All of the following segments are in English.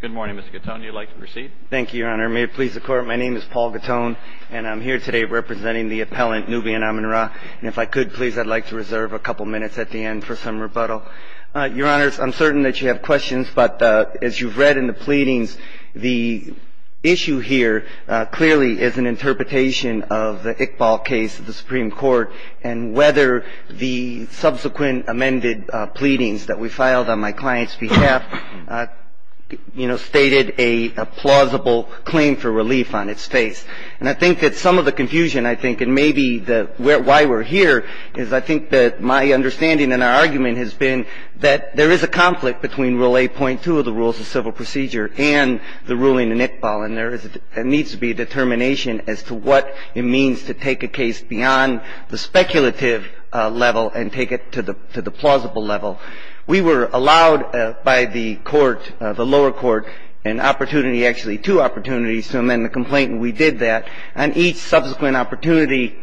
Good morning, Mr. Gattone. You'd like to proceed? Thank you, Your Honor. May it please the Court, my name is Paul Gattone, and I'm here today representing the appellant Nubian Amin Ra. And if I could, please, I'd like to reserve a couple minutes at the end for some rebuttal. Your Honors, I'm certain that you have questions, but as you've read in the pleadings, the issue here clearly is an interpretation of the Iqbal case at the Supreme Court, and whether the subsequent amended pleadings that we filed on my client's behalf, you know, stated a plausible claim for relief on its face. And I think that some of the confusion, I think, and maybe why we're here is I think that my understanding and our argument has been that there is a conflict between Rule 8.2 of the Rules of Civil Procedure and the ruling in Iqbal, and there needs to be determination as to what it means to take a case beyond the speculative level and take it to the plausible level. We were allowed by the court, the lower court, an opportunity, actually two opportunities to amend the complaint, and we did that. On each subsequent opportunity,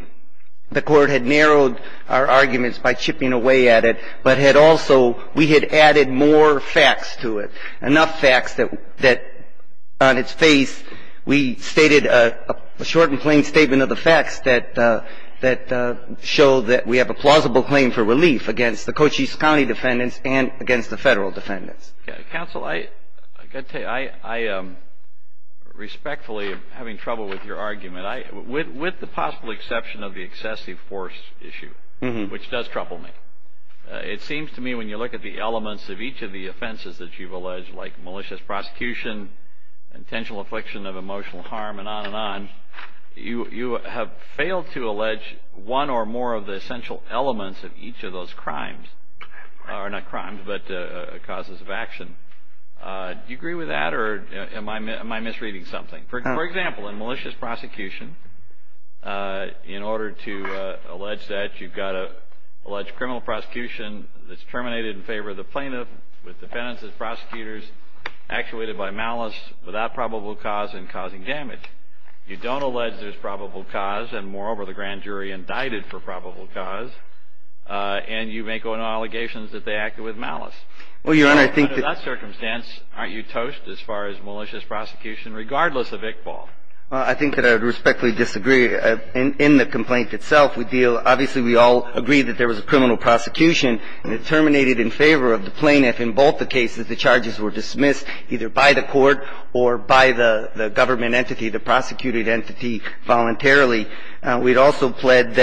the court had narrowed our arguments by chipping away at it, but had also, we had added more facts to it, enough facts that on its face, we stated a short and plain statement of the facts that show that we have a plausible claim for relief against the Cochise County defendants and against the Federal defendants. Counsel, I've got to tell you, I am respectfully having trouble with your argument, with the possible exception of the excessive force issue, which does trouble me. It seems to me when you look at the elements of each of the offenses that you've alleged, like malicious prosecution, intentional affliction of emotional harm, and on and on, you have failed to allege one or more of the essential elements of each of those crimes, or not crimes, but causes of action. Do you agree with that, or am I misreading something? For example, in malicious prosecution, in order to allege that, you've got to allege criminal prosecution that's terminated in favor of the plaintiff, with defendants as prosecutors, actuated by malice, without probable cause, and causing damage. You don't allege there's probable cause, and moreover, the grand jury indicted for probable cause, and you make allegations that they acted with malice. Well, Your Honor, I think that Under that circumstance, aren't you toast as far as malicious prosecution, regardless of Iqbal? I think that I would respectfully disagree. In the complaint itself, we deal, obviously we all agree that there was a criminal prosecution, and it terminated in favor of the plaintiff in both the cases. The charges were dismissed either by the court or by the government entity, the prosecuted entity, voluntarily. We'd also pled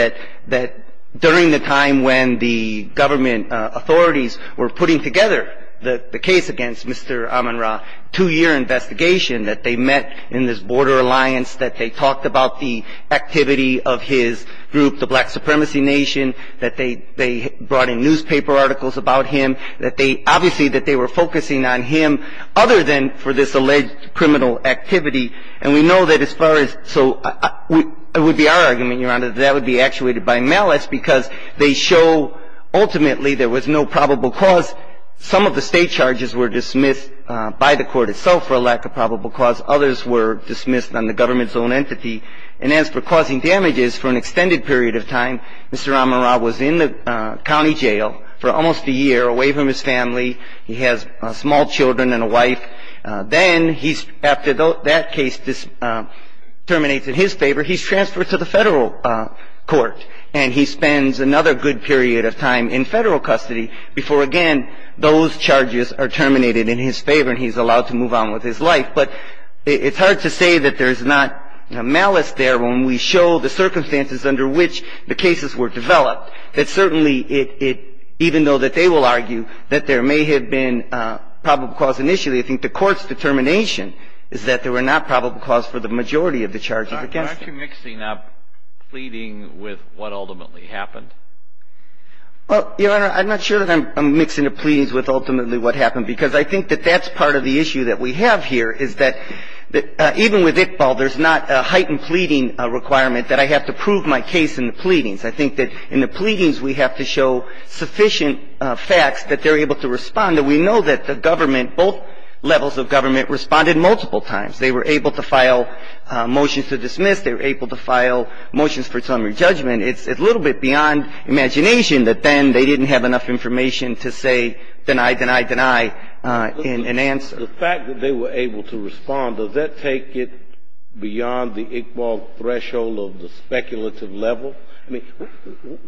that during the time when the government authorities were putting together the case against Mr. Amin Ra, two-year investigation that they met in this border alliance, that they talked about the activity of his group, the Black Supremacy Nation, that they brought in newspaper articles about him, that they obviously that they were focusing on him, other than for this alleged criminal activity. And we know that as far as, so it would be our argument, Your Honor, that that would be actuated by malice because they show ultimately there was no probable cause. Some of the state charges were dismissed by the court itself for a lack of probable cause. Others were dismissed on the government's own entity. And as for causing damages, for an extended period of time, Mr. Amin Ra was in the county jail for almost a year, away from his family. He has small children and a wife. Then he's, after that case terminates in his favor, he's transferred to the Federal Court. And he spends another good period of time in Federal custody before again those charges are terminated in his favor and he's allowed to move on with his life. But it's hard to say that there's not malice there when we show the circumstances under which the cases were developed, that certainly it, even though that they will argue that there may have been probable cause initially, I think the court's determination is that there were not probable cause for the majority of the charges against him. Why aren't you mixing up pleading with what ultimately happened? Well, Your Honor, I'm not sure that I'm mixing the pleadings with ultimately what happened because I think that that's part of the issue that we have here is that even with Iqbal, there's not a heightened pleading requirement that I have to prove my case in the pleadings. I think that in the pleadings we have to show sufficient facts that they're able to respond, and we know that the government, both levels of government responded multiple times. They were able to file motions to dismiss. They were able to file motions for summary judgment. It's a little bit beyond imagination that then they didn't have enough information to say deny, deny, deny in an answer. The fact that they were able to respond, does that take it beyond the Iqbal threshold of the speculative level?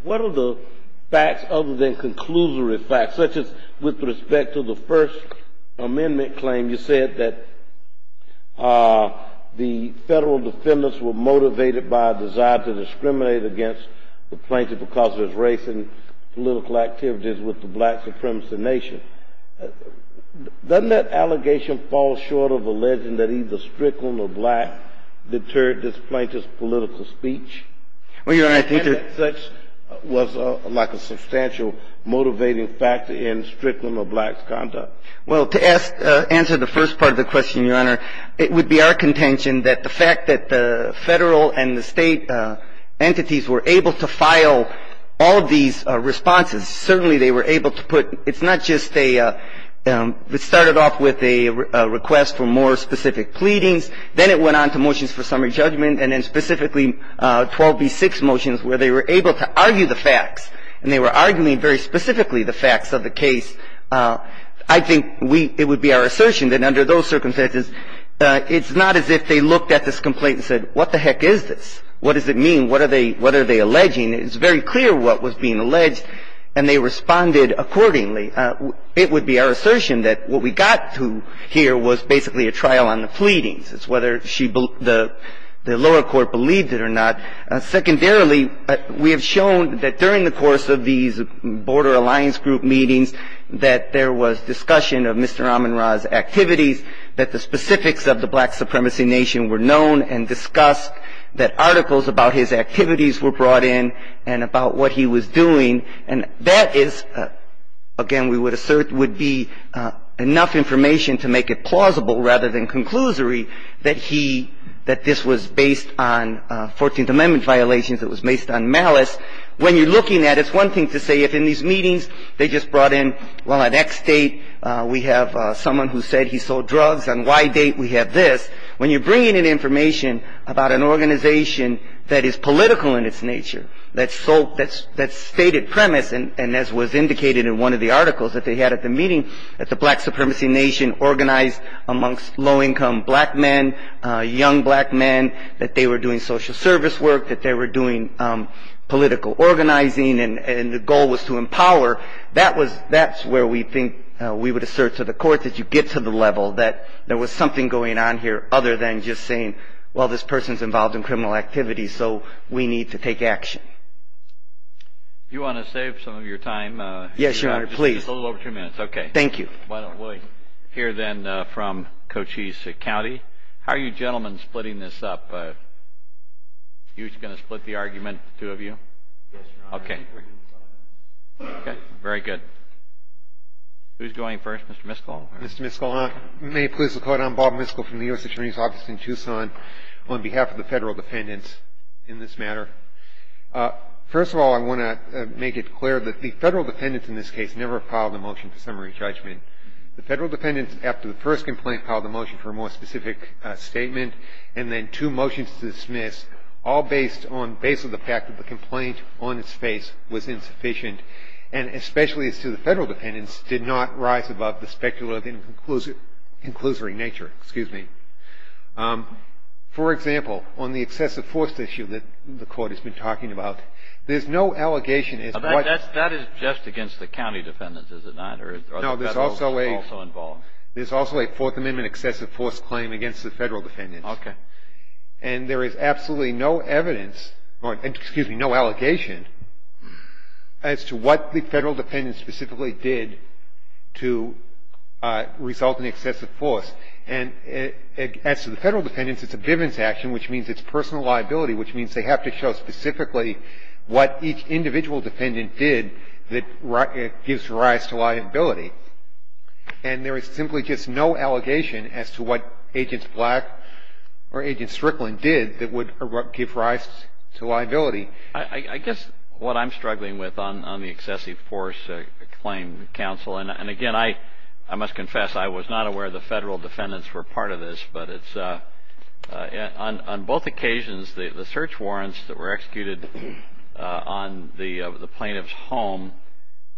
What are the facts other than conclusory facts, such as with respect to the First Amendment claim, you said that the federal defendants were motivated by a desire to discriminate against the plaintiff because of his race and political activities with the black supremacy nation. Doesn't that allegation fall short of a legend that either Strickland or black deterred this plaintiff's political speech? Well, Your Honor, I think that Such was like a substantial motivating factor in Strickland or black's conduct. Well, to answer the first part of the question, Your Honor, it would be our contention that the fact that the federal and the state entities were able to file all of these responses, certainly they were able to put, it's not just a, it started off with a request for more specific pleadings. Then it went on to motions for summary judgment and then specifically 12b6 motions where they were able to argue the facts and they were arguing very specifically the facts of the case. I think we, it would be our assertion that under those circumstances, it's not as if they looked at this complaint and said what the heck is this? What does it mean? What are they, what are they alleging? It's very clear what was being alleged and they responded accordingly. It would be our assertion that what we got to here was basically a trial on the pleadings. It's whether she, the lower court believed it or not. Secondarily, we have shown that during the course of these border alliance group meetings that there was discussion of Mr. Aminrah's activities, that the specifics of the black supremacy nation were known and discussed, that articles about his activities were brought in and about what he was doing. And that is, again, we would assert would be enough information to make it plausible rather than conclusory that he, that this was based on 14th Amendment violations, it was based on malice. When you're looking at it, it's one thing to say if in these meetings they just brought in, well, at X date we have someone who said he sold drugs, on Y date we have this. When you're bringing in information about an organization that is political in its nature, that's stated premise and as was indicated in one of the articles that they had at the meeting, that the black supremacy nation organized amongst low income black men, young black men, that they were doing social service work, that they were doing political organizing, and the goal was to empower, that's where we think we would assert to the court that you get to the level, that there was something going on here other than just saying, well, this person's involved in criminal activities, so we need to take action. If you want to save some of your time. Yes, Your Honor, please. Just a little over two minutes. Okay. Thank you. Why don't we hear then from Cochise County. How are you gentlemen splitting this up? Are you just going to split the argument, the two of you? Yes, Your Honor. Okay. Okay, very good. Who's going first, Mr. Miskell? Thank you, Your Honor. On behalf of the federal defendants in this matter, first of all, I want to make it clear that the federal defendants in this case never filed a motion for summary judgment. The federal defendants after the first complaint filed a motion for a more specific statement and then two motions to dismiss all based on the fact that the complaint on its face was insufficient and especially as to the federal defendants did not rise above the specter of an inclusory nature. Excuse me. For example, on the excessive force issue that the court has been talking about, there's no allegation. That is just against the county defendants, is it not? No, there's also a Fourth Amendment excessive force claim against the federal defendants. Okay. And there is absolutely no evidence or excuse me, no allegation as to what the federal defendants specifically did to result in excessive force. And as to the federal defendants, it's a Bivens action, which means it's personal liability, which means they have to show specifically what each individual defendant did that gives rise to liability. And there is simply just no allegation as to what Agents Black or Agents Strickland did that would give rise to liability. I guess what I'm struggling with on the excessive force claim, counsel, and again I must confess I was not aware the federal defendants were part of this, but it's on both occasions the search warrants that were executed on the plaintiff's home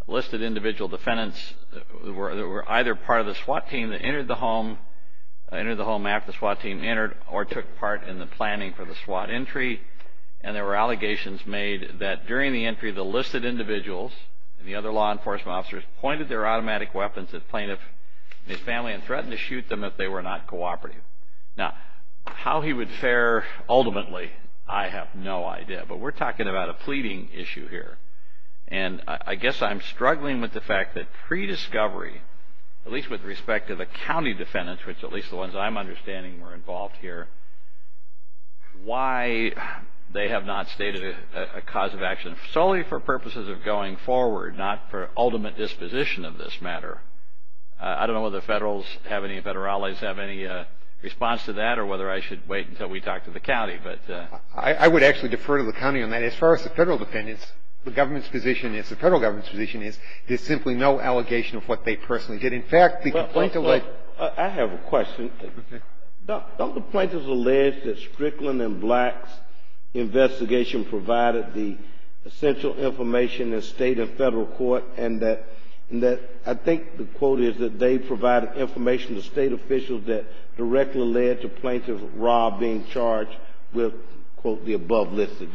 listed individual defendants that were either part of the SWAT team that entered the home after the SWAT team entered or took part in the planning for the SWAT entry. And there were allegations made that during the entry the listed individuals and the other law enforcement officers pointed their automatic weapons at plaintiff and his family and threatened to shoot them if they were not cooperative. Now, how he would fare ultimately, I have no idea. But we're talking about a pleading issue here. And I guess I'm struggling with the fact that prediscovery, at least with respect to the county defendants, which at least the ones I'm understanding were involved here, why they have not stated a cause of action solely for purposes of going forward, not for ultimate disposition of this matter. I don't know whether the federals have any, federales have any response to that I would actually defer to the county on that. As far as the federal defendants, the government's position is, the federal government's position is there's simply no allegation of what they personally did. In fact, the complaint alleged. I have a question. Okay. Don't the plaintiffs allege that Strickland and Black's investigation provided the essential information in state and federal court and that I think the quote is that they provided information to state officials that directly led to plaintiff Rob being charged with quote the above listed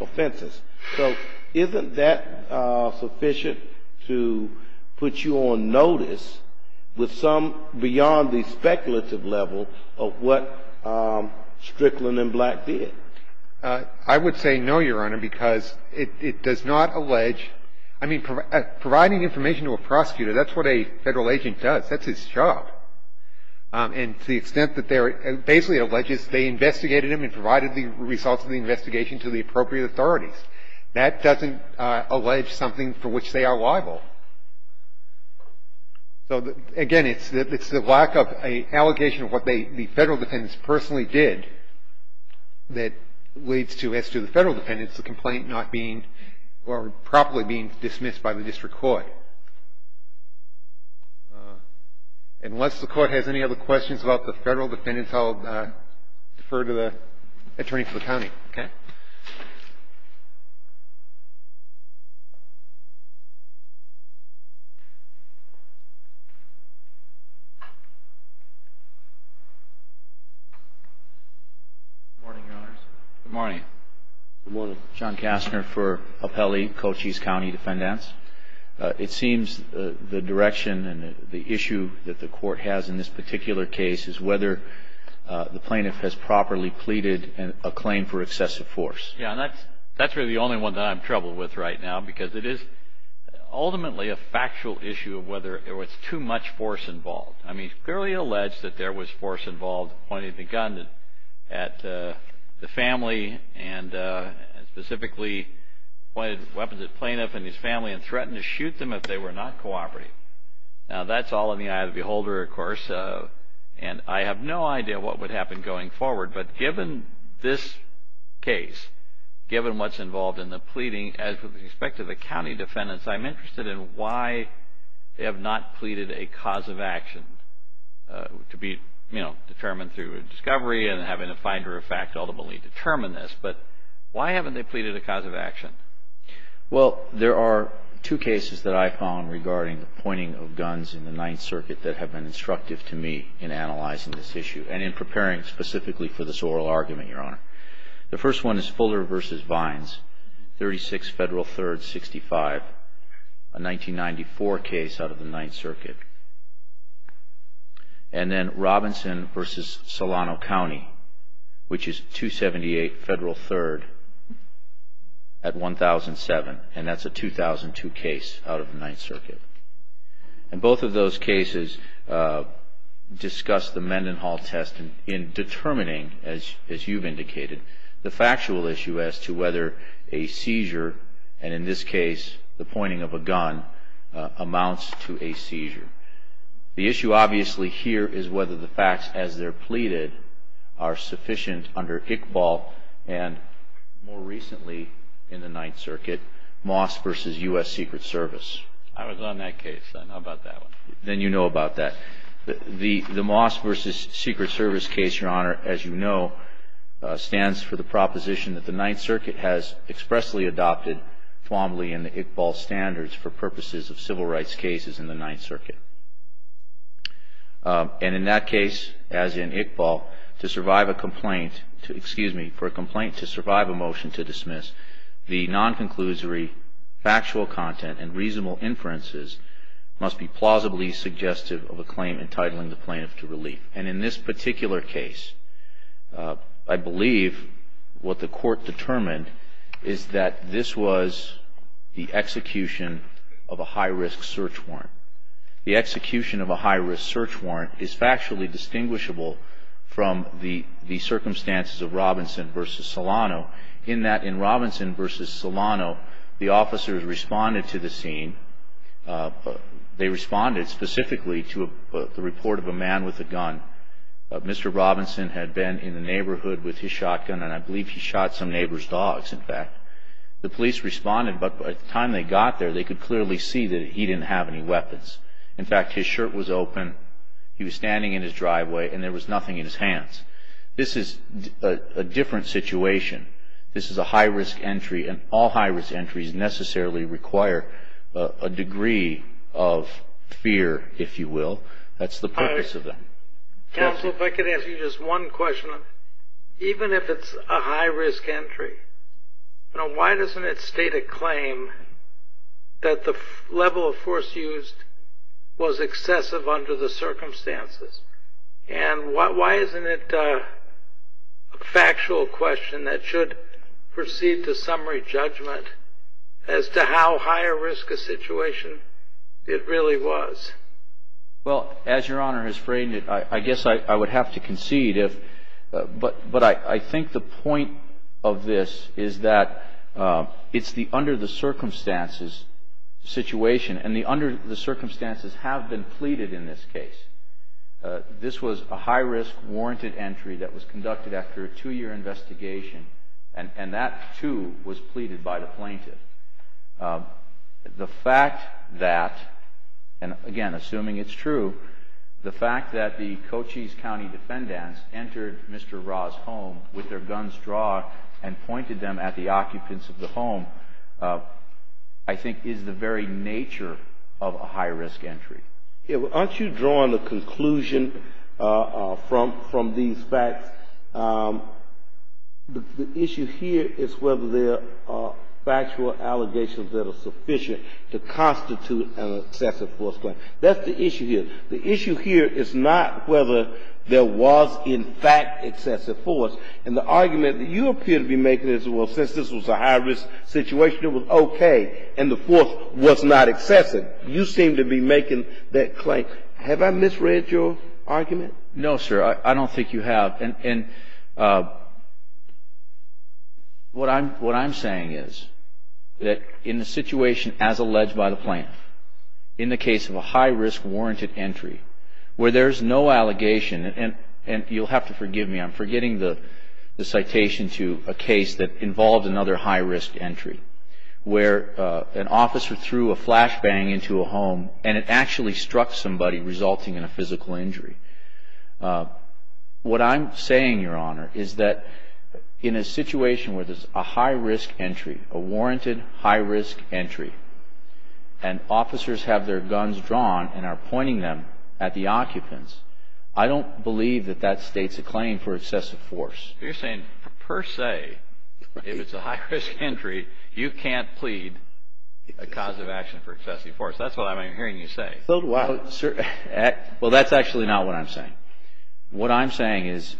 offenses. So isn't that sufficient to put you on notice with some beyond the speculative level of what Strickland and Black did? I would say no, Your Honor, because it does not allege. I mean, providing information to a prosecutor, that's what a federal agent does. That's his job. And to the extent that they're basically alleges they investigated him and provided the results of the investigation to the appropriate authorities. That doesn't allege something for which they are liable. So again, it's the lack of an allegation of what the federal defendants personally did that leads to, the complaint not being or properly being dismissed by the district court. Unless the court has any other questions about the federal defendants, I'll defer to the attorney for the county. Good morning, Your Honors. Good morning. Good morning. John Kastner for Apelli, Cochise County Defendants. It seems the direction and the issue that the court has in this particular case is whether the plaintiff has properly pleaded a claim for excessive force. Yeah, and that's really the only one that I'm troubled with right now because it is ultimately a factual issue of whether there was too much force involved. I mean, it's clearly alleged that there was force involved pointing the gun at the family and specifically pointed weapons at the plaintiff and his family and threatened to shoot them if they were not cooperating. Now, that's all in the eye of the beholder, of course. And I have no idea what would happen going forward. But given this case, given what's involved in the pleading, as with respect to the county defendants, I'm interested in why they have not pleaded a cause of action to be determined through a discovery and having a finder of fact ultimately determine this. But why haven't they pleaded a cause of action? Well, there are two cases that I found regarding the pointing of guns in the Ninth Circuit that have been instructive to me in analyzing this issue and in preparing specifically for this oral argument, Your Honor. The first one is Fuller v. Vines, 36 Federal 3rd, 65, a 1994 case out of the Ninth Circuit. And then Robinson v. Solano County, which is 278 Federal 3rd at 1007, and that's a 2002 case out of the Ninth Circuit. And both of those cases discuss the Mendenhall test in determining, as you've indicated, the factual issue as to whether a seizure, and in this case the pointing of a gun, amounts to a seizure. The issue obviously here is whether the facts as they're pleaded are sufficient under Iqbal and more recently in the Ninth Circuit, Moss v. U.S. Secret Service. I was on that case. I know about that one. Then you know about that. The Moss v. Secret Service case, Your Honor, as you know, stands for the proposition that the Ninth Circuit has expressly adopted formally in the Iqbal standards for purposes of civil rights cases in the Ninth Circuit. And in that case, as in Iqbal, to survive a complaint, excuse me, for a complaint to survive a motion to dismiss, the non-conclusory factual content and reasonable inferences must be plausibly suggestive of a claim entitling the plaintiff to relief. And in this particular case, I believe what the Court determined is that this was the execution of a high-risk search warrant. The execution of a high-risk search warrant is factually distinguishable from the circumstances of Robinson v. Solano, in that in Robinson v. Solano, the officers responded to the scene. They responded specifically to the report of a man with a gun. Mr. Robinson had been in the neighborhood with his shotgun and I believe he shot some neighbor's dogs, in fact. The police responded, but by the time they got there, they could clearly see that he didn't have any weapons. In fact, his shirt was open, he was standing in his driveway, and there was nothing in his hands. This is a different situation. This is a high-risk entry, and all high-risk entries necessarily require a degree of fear, if you will. That's the purpose of them. Counsel, if I could ask you just one question. Even if it's a high-risk entry, why doesn't it state a claim that the level of force used was excessive under the circumstances? And why isn't it a factual question that should proceed to summary judgment as to how high-risk a situation it really was? Well, as Your Honor has framed it, I guess I would have to concede, but I think the point of this is that it's the under-the-circumstances situation, and the under-the-circumstances have been pleaded in this case. This was a high-risk warranted entry that was conducted after a two-year investigation, and that, too, was pleaded by the plaintiff. The fact that, and again, assuming it's true, the fact that the Cochise County defendants entered Mr. Ra's home with their guns drawn and pointed them at the occupants of the home, I think is the very nature of a high-risk entry. Aren't you drawing a conclusion from these facts? The issue here is whether there are factual allegations that are sufficient to constitute an excessive force claim. That's the issue here. The issue here is not whether there was, in fact, excessive force. And the argument that you appear to be making is, well, since this was a high-risk situation, it was okay, and the force was not excessive. You seem to be making that claim. Have I misread your argument? No, sir. I don't think you have. And what I'm saying is that in the situation as alleged by the plaintiff, in the case of a high-risk warranted entry where there's no allegation, and you'll have to forgive me, I'm forgetting the citation to a case that involved another high-risk entry, where an officer threw a flashbang into a home and it actually struck somebody resulting in a physical injury. What I'm saying, Your Honor, is that in a situation where there's a high-risk entry, a warranted high-risk entry, and officers have their guns drawn and are pointing them at the occupants, I don't believe that that states a claim for excessive force. You're saying per se, if it's a high-risk entry, you can't plead a cause of action for excessive force. That's what I'm hearing you say. Well, that's actually not what I'm saying. What I'm saying is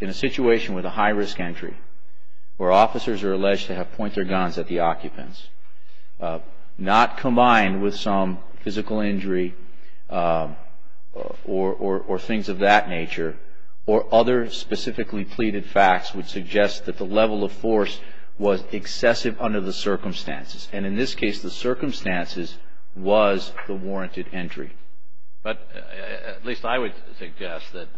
in a situation with a high-risk entry where officers are alleged to have pointed their guns at the occupants, not combined with some physical injury or things of that nature or other specifically pleaded facts would suggest that the level of force was excessive under the circumstances. And in this case, the circumstances was the warranted entry. But at least I would suggest that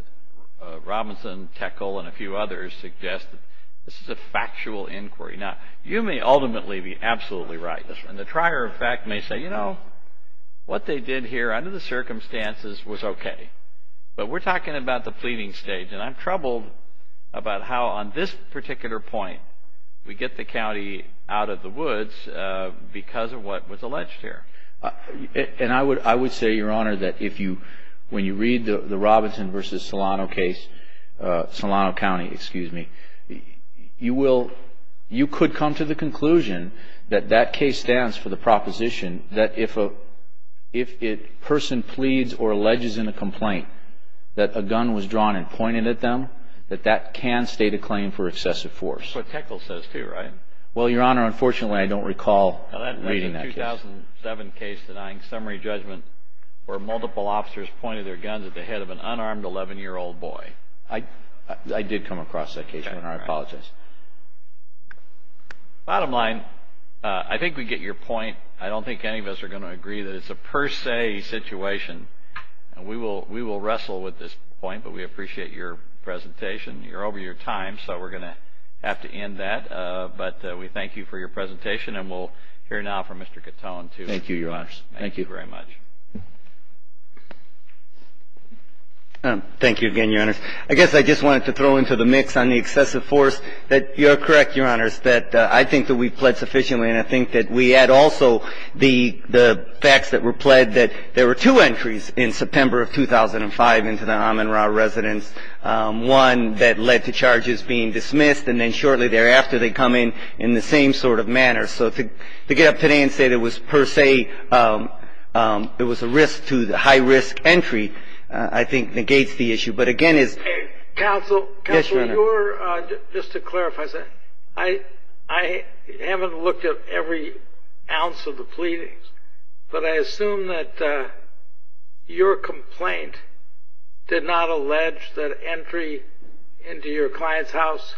Robinson, Teckel, and a few others suggest that this is a factual inquiry. Now, you may ultimately be absolutely right, and the trier of fact may say, you know, what they did here under the circumstances was okay. But we're talking about the pleading stage, and I'm troubled about how on this particular point we get the county out of the woods because of what was alleged here. And I would say, Your Honor, that when you read the Robinson v. Solano case, Solano County, excuse me, you could come to the conclusion that that case stands for the proposition that if a person pleads or alleges in a complaint that a gun was drawn and pointed at them, that that can state a claim for excessive force. That's what Teckel says too, right? Well, Your Honor, unfortunately, I don't recall reading that case. Now, that was a 2007 case denying summary judgment where multiple officers pointed their guns at the head of an unarmed 11-year-old boy. I did come across that case, Your Honor. I apologize. Bottom line, I think we get your point. I don't think any of us are going to agree that it's a per se situation. We will wrestle with this point, but we appreciate your presentation. You're over your time, so we're going to have to end that. But we thank you for your presentation, and we'll hear now from Mr. Catone. Thank you, Your Honors. Thank you very much. Thank you again, Your Honors. I guess I just wanted to throw into the mix on the excessive force that you're correct, Your Honors, that I think that we've pled sufficiently, and I think that we add also the facts that were pled, that there were two entries in September of 2005 into the Amin Ra Residence, one that led to charges being dismissed, and then shortly thereafter they come in in the same sort of manner. So to get up today and say that it was per se, it was a risk to the high-risk entry, I think, negates the issue. But again, it's ‑‑ Counsel. Counsel. Yes, Your Honor. Just to clarify, I haven't looked at every ounce of the pleadings, but I assume that your complaint did not allege that entry into your client's house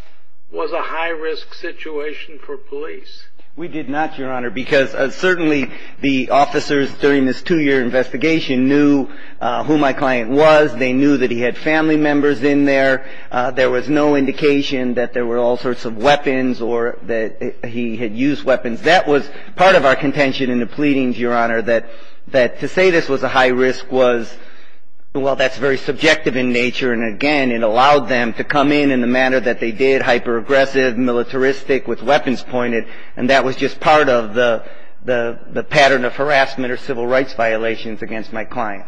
was a high-risk situation for police. We did not, Your Honor, because certainly the officers during this two-year investigation knew who my client was. They knew that he had family members in there. There was no indication that there were all sorts of weapons or that he had used weapons. That was part of our contention in the pleadings, Your Honor, that to say this was a high risk was, well, that's very subjective in nature, and again, it allowed them to come in in the manner that they did, hyperaggressive, militaristic, with weapons pointed, and that was just part of the pattern of harassment or civil rights violations against my client.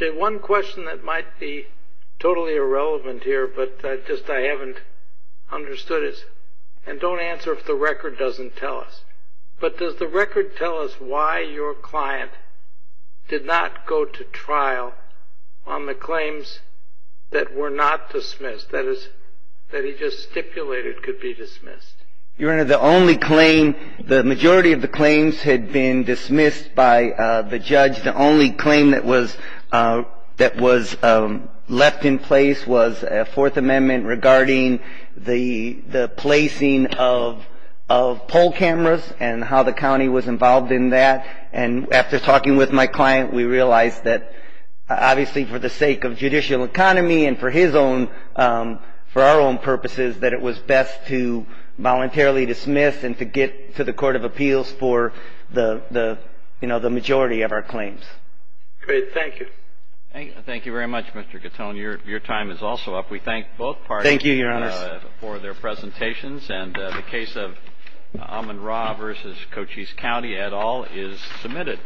Okay. One question that might be totally irrelevant here, but just I haven't understood it, and don't answer if the record doesn't tell us, but does the record tell us why your client did not go to trial on the claims that were not dismissed, that is, that he just stipulated could be dismissed? Your Honor, the only claim, the majority of the claims had been dismissed by the judge. The only claim that was left in place was a Fourth Amendment regarding the placing of poll cameras and how the county was involved in that, and after talking with my client, we realized that obviously for the sake of judicial economy and for his own, for our own purposes, that it was best to voluntarily dismiss and to get to the Court of Appeals for the majority of our claims. Great. Thank you. Thank you very much, Mr. Gattone. Your time is also up. We thank both parties for their presentations. Thank you, Your Honor. And the case of Amon Ra versus Cochise County et al. is submitted.